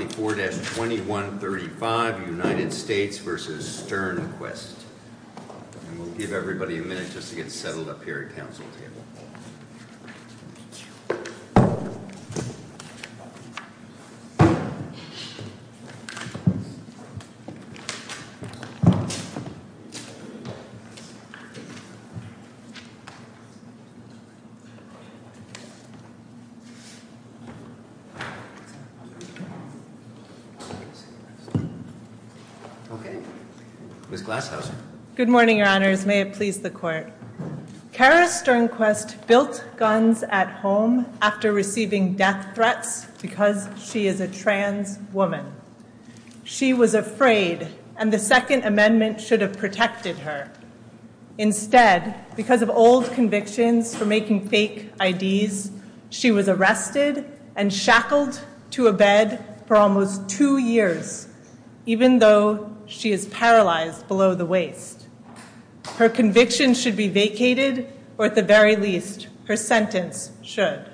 And we'll give everybody a minute just to get settled up here at the council table. Okay. Ms. Glasshouse. Good morning, your honors. May it please the court. Kara Sternquist built guns at home after receiving death threats because she is a trans woman. She was afraid, and the Second Amendment should have protected her. Instead, because of old convictions for making fake IDs, she was arrested and shackled to a bed for almost two years, even though she is paralyzed below the waist. Her conviction should be vacated, or at the very least, her sentence should.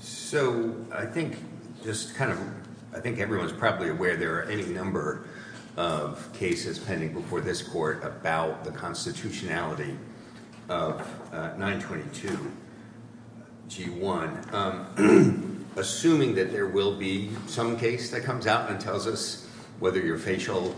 So I think just kind of, I think everyone's probably aware there are any number of cases pending before this court about the constitutionality of 922G1. Assuming that there will be some case that comes out and tells us whether your facial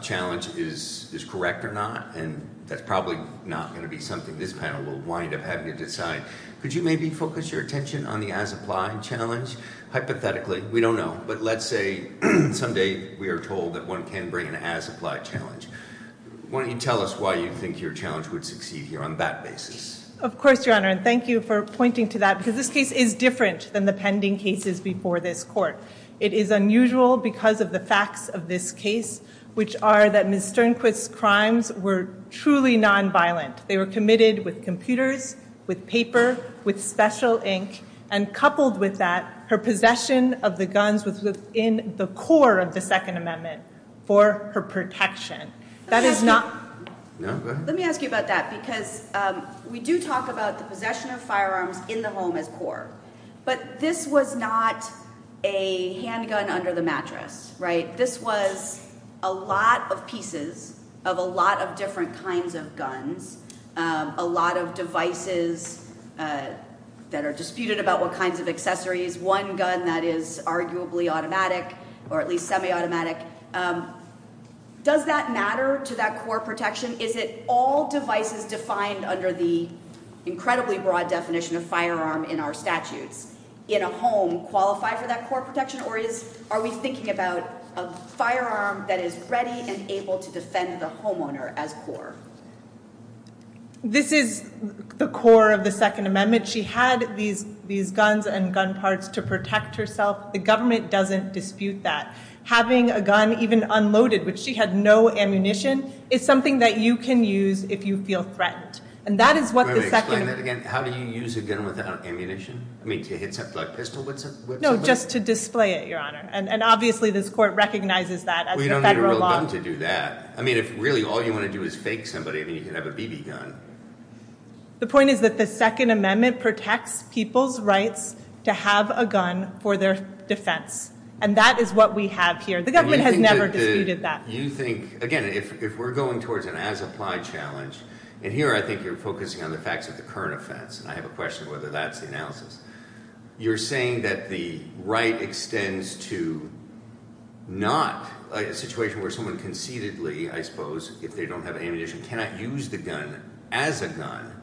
challenge is correct or not, and that's probably not going to be something this panel will wind up having to decide, could you maybe focus your attention on the as-applied challenge? Hypothetically, we don't know, but let's say someday we are told that one can bring an as-applied challenge. Why don't you tell us why you think your challenge would succeed here on that basis? Of course, Your Honor, and thank you for pointing to that, because this case is different than the pending cases before this court. It is unusual because of the facts of this case, which are that Ms. Sternquist's crimes were truly nonviolent. They were committed with computers, with paper, with special ink, and coupled with that, her possession of the guns was within the core of the Second Amendment for her protection. Let me ask you about that, because we do talk about the possession of firearms in the home as core, but this was not a handgun under the mattress, right? This was a lot of pieces of a lot of different kinds of guns, a lot of devices that are disputed about what kinds of accessories, one gun that is arguably automatic or at least semi-automatic. Does that matter to that core protection? Is it all devices defined under the incredibly broad definition of firearm in our statutes in a home qualify for that core protection, or are we thinking about a firearm that is ready and able to defend the homeowner as core? This is the core of the Second Amendment. She had these guns and gun parts to protect herself. The government doesn't dispute that. Having a gun even unloaded, which she had no ammunition, is something that you can use if you feel threatened, and that is what the Second— Do you want me to explain that again? How do you use a gun without ammunition? I mean, to hit something like a pistol with somebody? No, just to display it, Your Honor, and obviously this court recognizes that as federal law. Well, you don't need a real gun to do that. I mean, if really all you want to do is fake somebody, then you can have a BB gun. The point is that the Second Amendment protects people's rights to have a gun for their defense, and that is what we have here. The government has never disputed that. You think—again, if we're going towards an as-applied challenge, and here I think you're focusing on the facts of the current offense, and I have a question whether that's the analysis. You're saying that the right extends to not a situation where someone conceitedly, I suppose, if they don't have ammunition, cannot use the gun as a gun,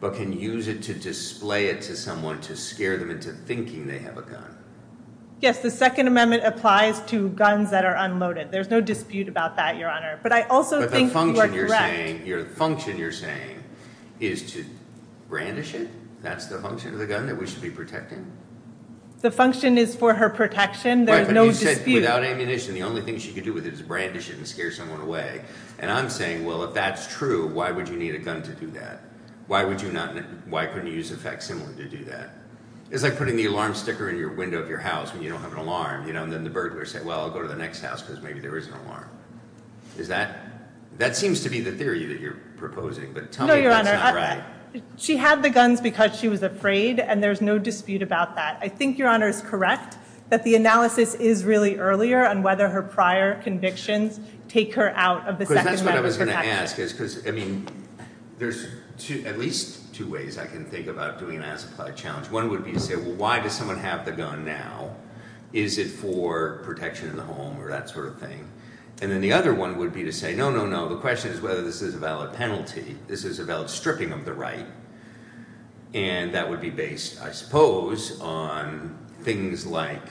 but can use it to display it to someone to scare them into thinking they have a gun. Yes, the Second Amendment applies to guns that are unloaded. There's no dispute about that, Your Honor. But I also think you are correct. But the function you're saying is to brandish it? That's the function of the gun that we should be protecting? The function is for her protection. There's no dispute. Right, but you said without ammunition, the only thing she could do with it is brandish it and scare someone away. And I'm saying, well, if that's true, why would you need a gun to do that? Why couldn't you use a facsimile to do that? It's like putting the alarm sticker in the window of your house when you don't have an alarm, and then the burglar says, well, I'll go to the next house because maybe there is an alarm. That seems to be the theory that you're proposing, but tell me if that's not right. She had the guns because she was afraid, and there's no dispute about that. I think, Your Honor, it's correct that the analysis is really earlier on whether her prior convictions take her out of the Second Amendment protection. Because that's what I was going to ask. There's at least two ways I can think about doing an as-applied challenge. One would be to say, well, why does someone have the gun now? Is it for protection in the home or that sort of thing? And then the other one would be to say, no, no, no. The question is whether this is a valid penalty. This is a valid stripping of the right. And that would be based, I suppose, on things like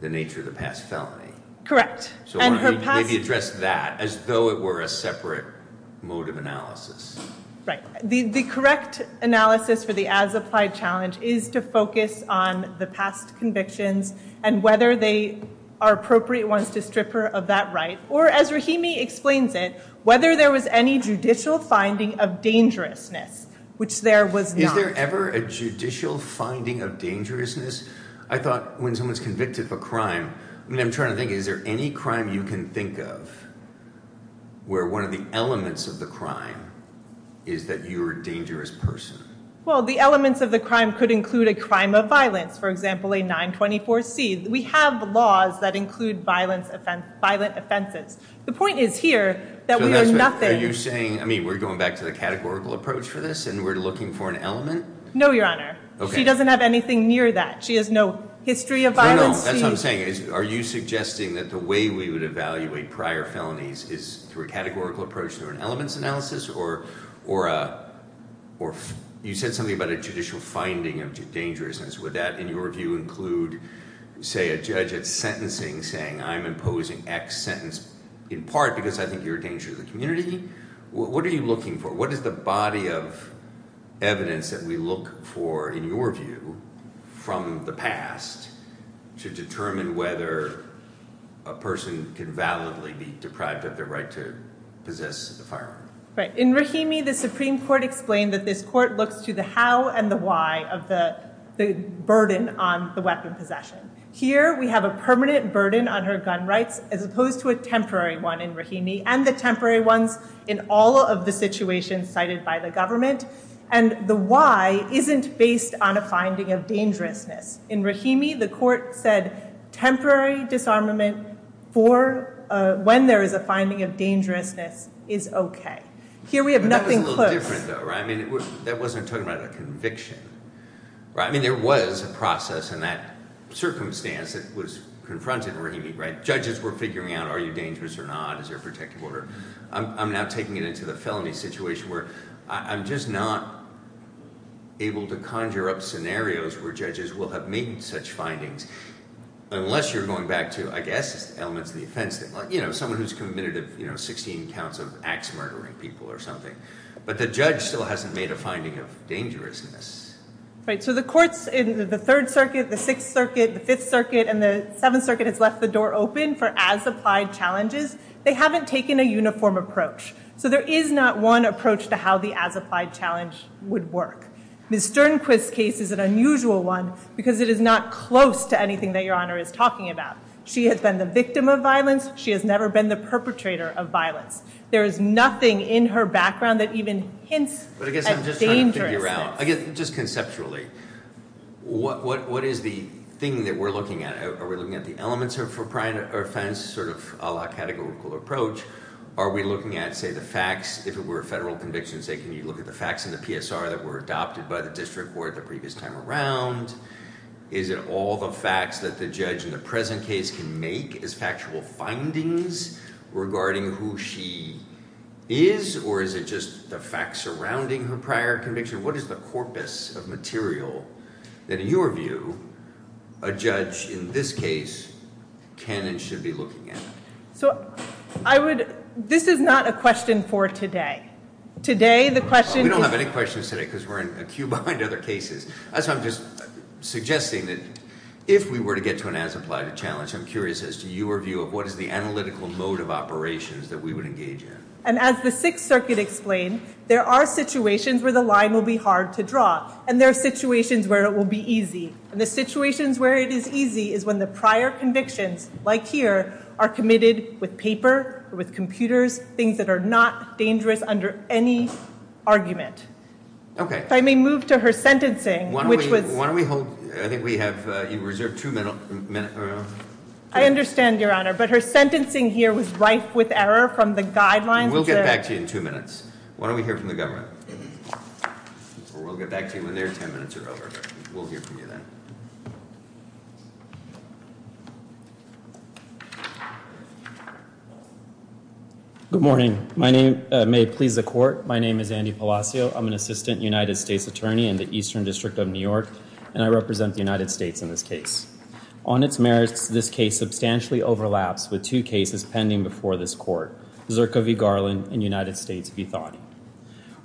the nature of the past felony. Correct. Maybe address that as though it were a separate mode of analysis. Right. The correct analysis for the as-applied challenge is to focus on the past convictions and whether they are appropriate ones to strip her of that right. Or, as Rahimi explains it, whether there was any judicial finding of dangerousness, which there was not. Is there ever a judicial finding of dangerousness? I thought when someone's convicted of a crime, I mean, I'm trying to think, is there any crime you can think of where one of the elements of the crime is that you're a dangerous person? Well, the elements of the crime could include a crime of violence. For example, a 924C. We have laws that include violent offenses. The point is here that we are nothing. Are you saying, I mean, we're going back to the categorical approach for this and we're looking for an element? No, Your Honor. She doesn't have anything near that. She has no history of violence. No, no, that's what I'm saying. Are you suggesting that the way we would evaluate prior felonies is through a categorical approach through an elements analysis? Or you said something about a judicial finding of dangerousness. Would that, in your view, include, say, a judge at sentencing saying, I'm imposing X sentence in part because I think you're a danger to the community? What are you looking for? What is the body of evidence that we look for, in your view, from the past to determine whether a person can validly be deprived of their right to possess a firearm? Right. In Rahimi, the Supreme Court explained that this court looks to the how and the why of the burden on the weapon possession. Here, we have a permanent burden on her gun rights as opposed to a temporary one in Rahimi. And the temporary ones in all of the situations cited by the government. And the why isn't based on a finding of dangerousness. In Rahimi, the court said temporary disarmament for when there is a finding of dangerousness is OK. Here, we have nothing close. That was a little different, though. I mean, that wasn't talking about a conviction. I mean, there was a process in that circumstance that was confronted in Rahimi, right? I'm now taking it into the felony situation, where I'm just not able to conjure up scenarios where judges will have made such findings. Unless you're going back to, I guess, elements of the offense. You know, someone who's committed 16 counts of axe-murdering people or something. But the judge still hasn't made a finding of dangerousness. Right. So the courts in the Third Circuit, the Sixth Circuit, the Fifth Circuit, and the Seventh Circuit has left the door open for as-applied challenges. They haven't taken a uniform approach. So there is not one approach to how the as-applied challenge would work. Ms. Sternquist's case is an unusual one, because it is not close to anything that Your Honor is talking about. She has been the victim of violence. She has never been the perpetrator of violence. There is nothing in her background that even hints at dangerousness. But I guess I'm just trying to figure out, just conceptually, what is the thing that we're looking at? Are we looking at the elements of her offense sort of a la categorical approach? Are we looking at, say, the facts, if it were a federal conviction, say, can you look at the facts in the PSR that were adopted by the district court the previous time around? Is it all the facts that the judge in the present case can make as factual findings regarding who she is? Or is it just the facts surrounding her prior conviction? What is the corpus of material that, in your view, a judge in this case can and should be looking at? This is not a question for today. We don't have any questions today because we're in a queue behind other cases. I'm just suggesting that if we were to get to an as-applied challenge, I'm curious as to your view of what is the analytical mode of operations that we would engage in. As the Sixth Circuit explained, there are situations where the line will be hard to draw and there are situations where it will be easy. And the situations where it is easy is when the prior convictions, like here, are committed with paper or with computers, things that are not dangerous under any argument. If I may move to her sentencing, which was – Why don't we hold – I think we have reserved two minutes. I understand, Your Honor, but her sentencing here was rife with error from the guidelines. We'll get back to you in two minutes. Why don't we hear from the government? We'll get back to you when their ten minutes are over. We'll hear from you then. Good morning. My name may please the court. My name is Andy Palacio. I'm an assistant United States attorney in the Eastern District of New York, and I represent the United States in this case. On its merits, this case substantially overlaps with two cases pending before this court, Zirka v. Garland and United States v. Thotty.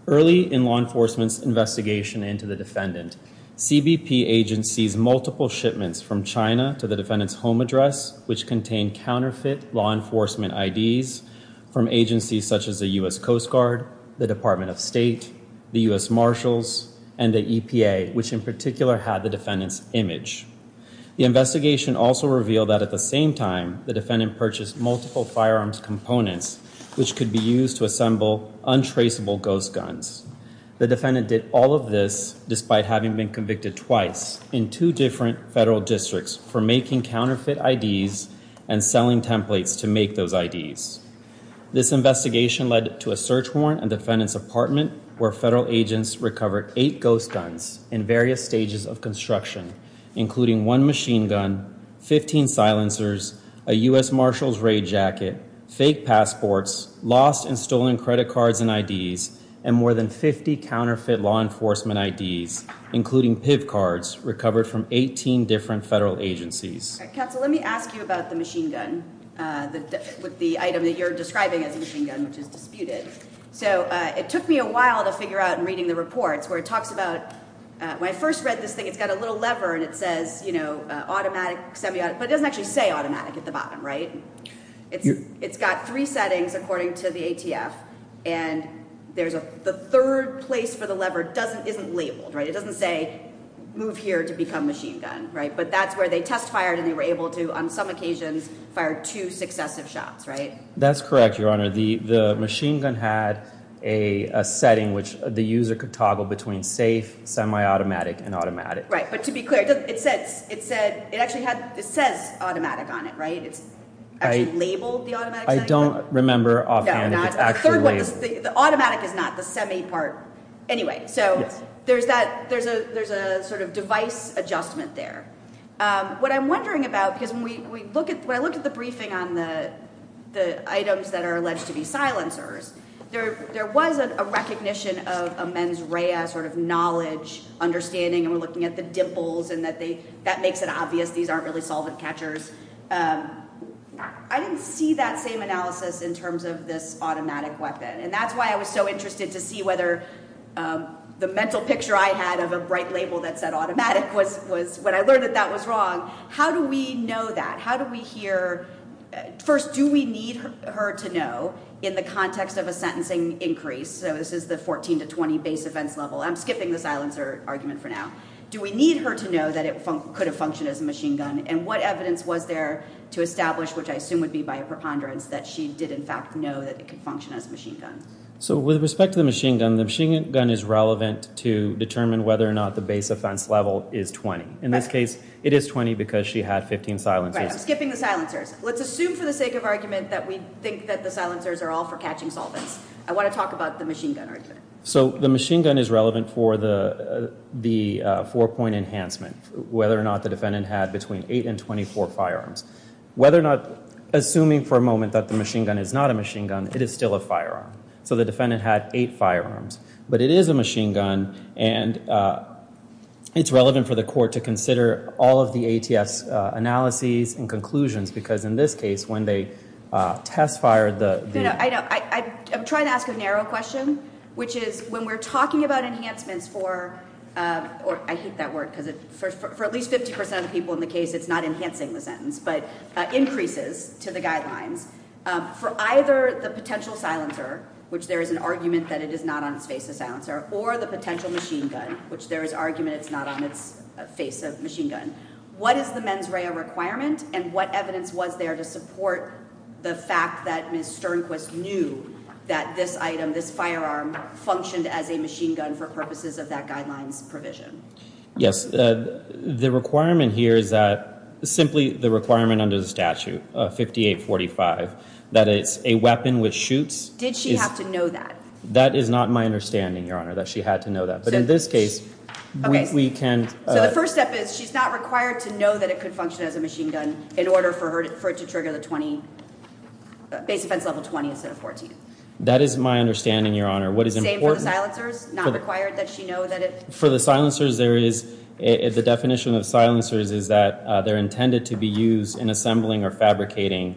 Early in law enforcement's investigation into the defendant, CBP agents seized multiple shipments from China to the defendant's home address, which contained counterfeit law enforcement IDs from agencies such as the U.S. Coast Guard, the Department of State, the U.S. Marshals, and the EPA, which in particular had the defendant's image. The investigation also revealed that at the same time, the defendant purchased multiple firearms components, which could be used to assemble untraceable ghost guns. The defendant did all of this despite having been convicted twice in two different federal districts for making counterfeit IDs and selling templates to make those IDs. This investigation led to a search warrant in the defendant's apartment where federal agents recovered eight ghost guns in various stages of construction, including one machine gun, 15 silencers, a U.S. Marshals raid jacket, fake passports, lost and stolen credit cards and IDs, and more than 50 counterfeit law enforcement IDs, including PIV cards recovered from 18 different federal agencies. Counsel, let me ask you about the machine gun, the item that you're describing as a machine gun, which is disputed. So it took me a while to figure out in reading the reports where it talks about, when I first read this thing, it's got a little lever and it says, you know, automatic, semi-automatic, but it doesn't actually say automatic at the bottom, right? It's got three settings according to the ATF. And the third place for the lever isn't labeled, right? It doesn't say move here to become machine gun, right? But that's where they test fired and they were able to, on some occasions, fire two successive shots, right? That's correct, Your Honor. The machine gun had a setting which the user could toggle between safe, semi-automatic, and automatic. Right, but to be clear, it says automatic on it, right? It's actually labeled the automatic setting? I don't remember offhand if it's actually labeled. The automatic is not, the semi part. Anyway, so there's a sort of device adjustment there. What I'm wondering about, because when I look at the briefing on the items that are alleged to be silencers, there was a recognition of a mens rea sort of knowledge, understanding, and we're looking at the dimples and that makes it obvious these aren't really solvent catchers. I didn't see that same analysis in terms of this automatic weapon, and that's why I was so interested to see whether the mental picture I had of a bright label that said automatic when I learned that that was wrong, how do we know that? How do we hear? First, do we need her to know in the context of a sentencing increase? So this is the 14 to 20 base offense level. I'm skipping the silencer argument for now. Do we need her to know that it could have functioned as a machine gun, and what evidence was there to establish, which I assume would be by a preponderance, that she did, in fact, know that it could function as a machine gun? So with respect to the machine gun, the machine gun is relevant to determine whether or not the base offense level is 20. In this case, it is 20 because she had 15 silencers. Right. I'm skipping the silencers. Let's assume for the sake of argument that we think that the silencers are all for catching solvents. I want to talk about the machine gun argument. So the machine gun is relevant for the four-point enhancement, whether or not the defendant had between eight and 24 firearms. Whether or not, assuming for a moment that the machine gun is not a machine gun, it is still a firearm. So the defendant had eight firearms. But it is a machine gun, and it's relevant for the court to consider all of the ATS analyses and conclusions because in this case, when they test fired the- I'm trying to ask a narrow question, which is when we're talking about enhancements for, I hate that word because for at least 50% of the people in the case, it's not enhancing the sentence, but increases to the guidelines for either the potential silencer, which there is an argument that it is not on its face, a silencer, or the potential machine gun, which there is argument it's not on its face, a machine gun. What is the mens rea requirement and what evidence was there to support the fact that Ms. Sternquist knew that this item, this firearm, functioned as a machine gun for purposes of that guidelines provision? Yes. The requirement here is that simply the requirement under the statute, 5845, that it's a weapon which shoots- Did she have to know that? That is not my understanding, Your Honor, that she had to know that. But in this case, we can- So the first step is she's not required to know that it could function as a machine gun in order for it to trigger the 20, base offense level 20 instead of 14. That is my understanding, Your Honor. What is important- Same for the silencers? Not required that she know that it- For the silencers, there is- the definition of silencers is that they're intended to be used in assembling or fabricating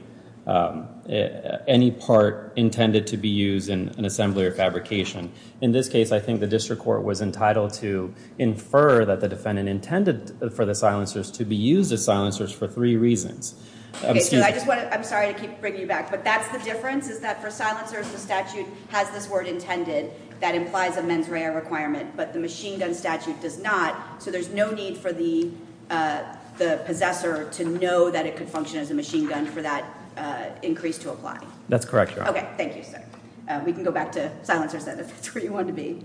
any part intended to be used in an assembly or fabrication. In this case, I think the district court was entitled to infer that the defendant intended for the silencers to be used as silencers for three reasons. I'm sorry to keep bringing you back, but that's the difference is that for silencers, the statute has this word intended. That implies a mens rea requirement, but the machine gun statute does not. So there's no need for the possessor to know that it could function as a machine gun for that increase to apply. That's correct, Your Honor. Okay. Thank you, sir. We can go back to silencers then if that's where you want to be.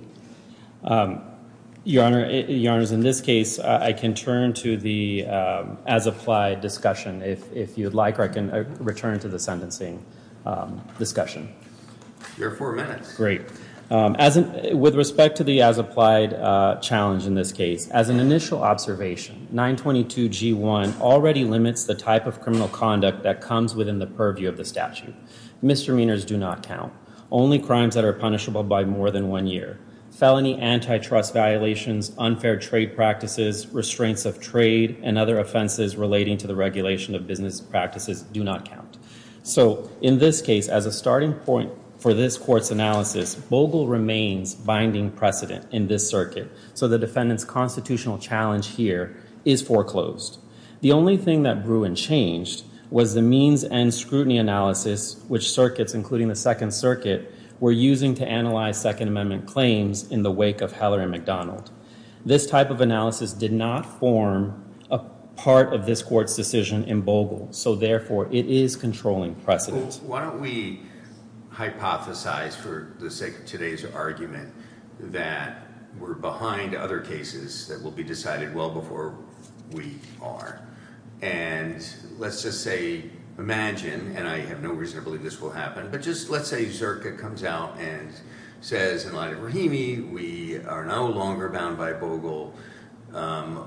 Your Honor, in this case, I can turn to the as-applied discussion. If you'd like, I can return to the sentencing discussion. You have four minutes. Great. With respect to the as-applied challenge in this case, as an initial observation, 922G1 already limits the type of criminal conduct that comes within the purview of the statute. Misdemeanors do not count. Only crimes that are punishable by more than one year. Felony antitrust violations, unfair trade practices, restraints of trade, and other offenses relating to the regulation of business practices do not count. So in this case, as a starting point for this court's analysis, Bogle remains binding precedent in this circuit. So the defendant's constitutional challenge here is foreclosed. The only thing that grew and changed was the means and scrutiny analysis, which circuits, including the Second Circuit, were using to analyze Second Amendment claims in the wake of Heller and McDonald. This type of analysis did not form a part of this court's decision in Bogle. So therefore, it is controlling precedent. Well, why don't we hypothesize for the sake of today's argument that we're behind other cases that will be decided well before we are. And let's just say, imagine, and I have no reason to believe this will happen, but just let's say Zerka comes out and says, in light of Rahimi, we are no longer bound by Bogle.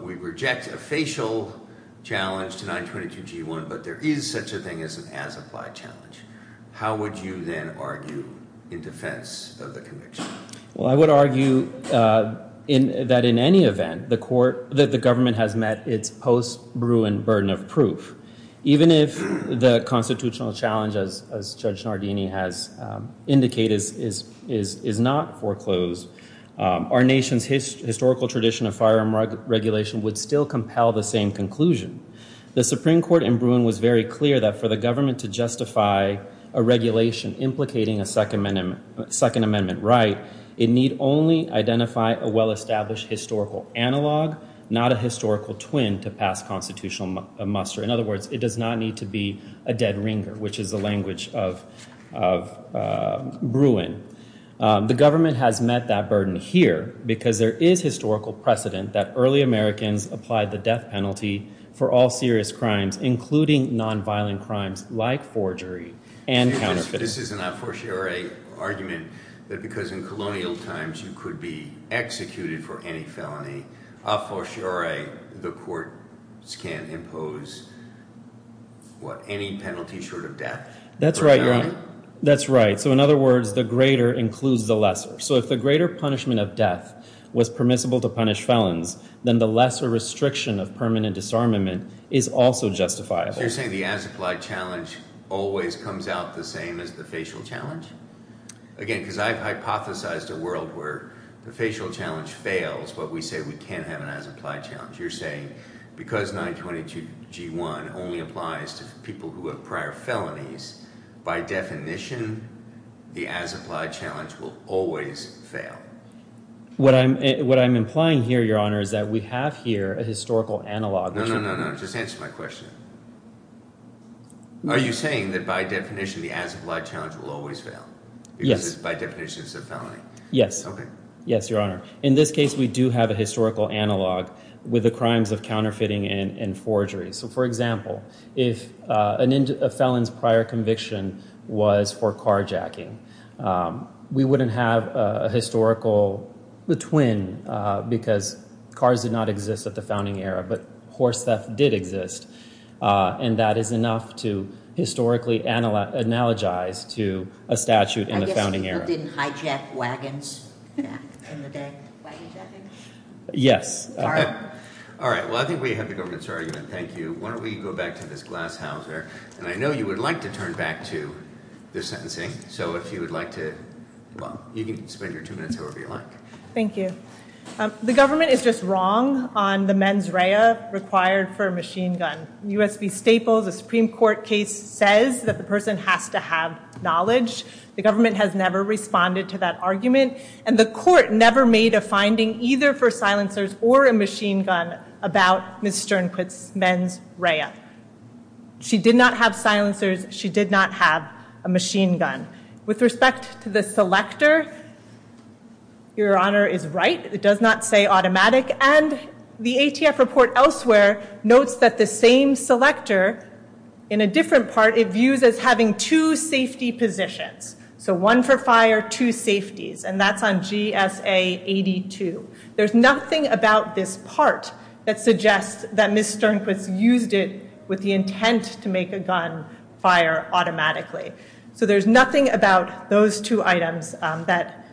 We reject a facial challenge to 922G1, but there is such a thing as an as-applied challenge. How would you then argue in defense of the conviction? Well, I would argue that in any event, the government has met its post-Bruin burden of proof. Even if the constitutional challenge, as Judge Nardini has indicated, is not foreclosed, our nation's historical tradition of firearm regulation would still compel the same conclusion. The Supreme Court in Bruin was very clear that for the government to justify a regulation implicating a Second Amendment right, it need only identify a well-established historical analog, not a historical twin to pass constitutional muster. In other words, it does not need to be a dead ringer, which is the language of Bruin. The government has met that burden here because there is historical precedent that early Americans applied the death penalty for all serious crimes, including nonviolent crimes like forgery and counterfeiting. This is an a fortiori argument that because in colonial times you could be executed for any felony, a fortiori the courts can't impose, what, any penalty short of death? That's right, that's right. So in other words, the greater includes the lesser. So if the greater punishment of death was permissible to punish felons, then the lesser restriction of permanent disarmament is also justifiable. So you're saying the as-applied challenge always comes out the same as the facial challenge? Again, because I've hypothesized a world where the facial challenge fails, but we say we can't have an as-applied challenge. You're saying because 922G1 only applies to people who have prior felonies, by definition the as-applied challenge will always fail? What I'm implying here, Your Honor, is that we have here a historical analog. No, no, no, no. Just answer my question. Are you saying that by definition the as-applied challenge will always fail? Yes. Because by definition it's a felony? Yes. Okay. Yes, Your Honor. In this case we do have a historical analog with the crimes of counterfeiting and forgery. So, for example, if a felon's prior conviction was for carjacking, we wouldn't have a historical twin because cars did not exist at the founding era, but horse theft did exist, and that is enough to historically analogize to a statute in the founding era. I guess people didn't hijack wagons back in the day. Yes. All right. Well, I think we have the government's argument. Thank you. Why don't we go back to this glasshouser, and I know you would like to turn back to the sentencing, so if you would like to, well, you can spend your two minutes however you like. Thank you. The government is just wrong on the mens rea required for a machine gun. In U.S. v. Staples, a Supreme Court case says that the person has to have knowledge. The government has never responded to that argument, and the court never made a finding either for silencers or a machine gun about Ms. Sternquist's mens rea. She did not have silencers. She did not have a machine gun. With respect to the selector, Your Honor is right. It does not say automatic, and the ATF report elsewhere notes that the same selector, in a different part, it views as having two safety positions, so one for fire, two safeties, and that's on GSA 82. There's nothing about this part that suggests that Ms. Sternquist used it with the intent to make a gun fire automatically. So there's nothing about those two items, that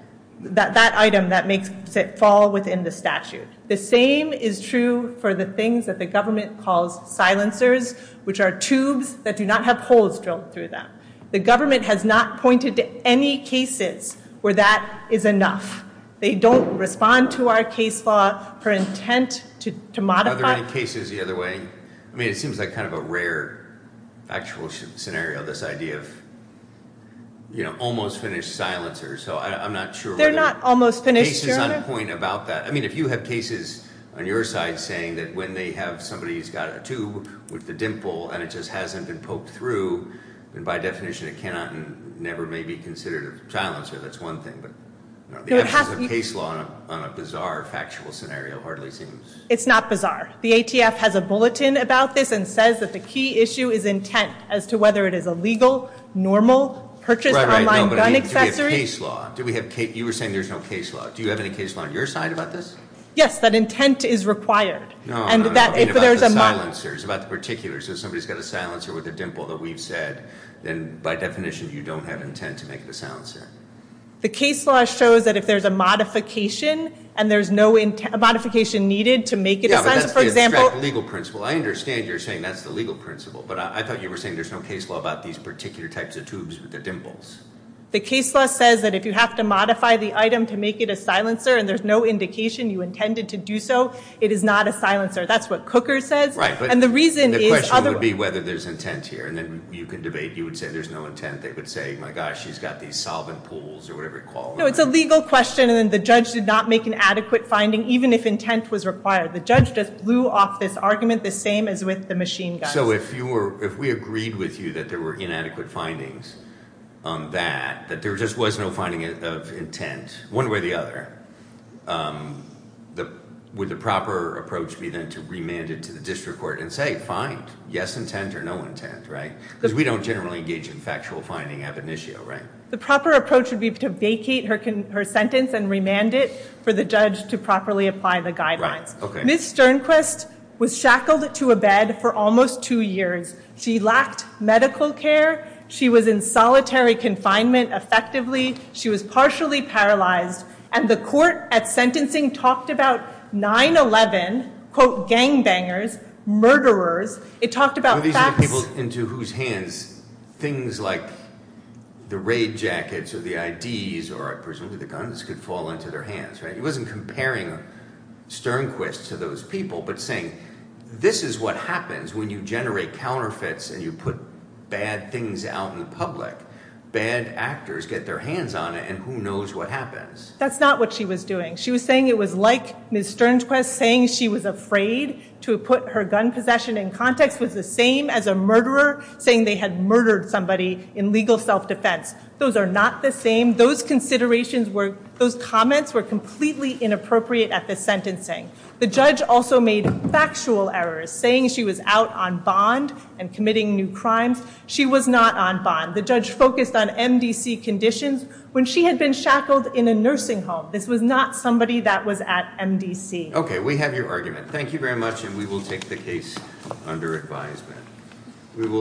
item that makes it fall within the statute. The same is true for the things that the government calls silencers, which are tubes that do not have holes drilled through them. The government has not pointed to any cases where that is enough. They don't respond to our case law for intent to modify. Are there any cases the other way? I mean, it seems like kind of a rare actual scenario, this idea of, you know, almost finished silencers. So I'm not sure whether cases on point about that. I mean, if you have cases on your side saying that when they have somebody who's got a tube with a dimple and it just hasn't been poked through, then by definition it cannot and never may be considered a silencer. That's one thing, but the absence of case law on a bizarre factual scenario hardly seems. It's not bizarre. The ATF has a bulletin about this and says that the key issue is intent as to whether it is a legal, normal, purchased online gun accessory. But do we have case law? You were saying there's no case law. Do you have any case law on your side about this? Yes, that intent is required. No, I don't know. I mean, about the silencers, about the particulars. If somebody's got a silencer with a dimple that we've said, then by definition you don't have intent to make it a silencer. The case law shows that if there's a modification and there's no modification needed to make it a silencer, for example. Yeah, but that's the abstract legal principle. I understand you're saying that's the legal principle, but I thought you were saying there's no case law about these particular types of tubes with the dimples. The case law says that if you have to modify the item to make it a silencer and there's no indication you intended to do so, it is not a silencer. That's what Cooker says. Right, but the question would be whether there's intent here. And then you can debate. You would say there's no intent. They would say, my gosh, she's got these solvent pools or whatever you call them. No, it's a legal question, and then the judge did not make an adequate finding, even if intent was required. The judge just blew off this argument the same as with the machine guns. So if we agreed with you that there were inadequate findings on that, that there just was no finding of intent one way or the other, would the proper approach be then to remand it to the district court and say, fine, yes intent or no intent, right? Because we don't generally engage in factual finding ab initio, right? The proper approach would be to vacate her sentence and remand it for the judge to properly apply the guidelines. Right, okay. Ms. Sternquist was shackled to a bed for almost two years. She lacked medical care. She was in solitary confinement, effectively. She was partially paralyzed. And the court at sentencing talked about 9-11, quote, gangbangers, murderers. It talked about facts. These are the people into whose hands things like the raid jackets or the IDs or presumably the guns could fall into their hands, right? It wasn't comparing Sternquist to those people but saying this is what happens when you generate counterfeits and you put bad things out in the public. Bad actors get their hands on it and who knows what happens. That's not what she was doing. She was saying it was like Ms. Sternquist saying she was afraid to put her gun possession in context was the same as a murderer saying they had murdered somebody in legal self-defense. Those are not the same. Those comments were completely inappropriate at the sentencing. The judge also made factual errors saying she was out on bond and committing new crimes. She was not on bond. The judge focused on MDC conditions when she had been shackled in a nursing home. This was not somebody that was at MDC. Okay, we have your argument. Thank you very much and we will take the case under advisement.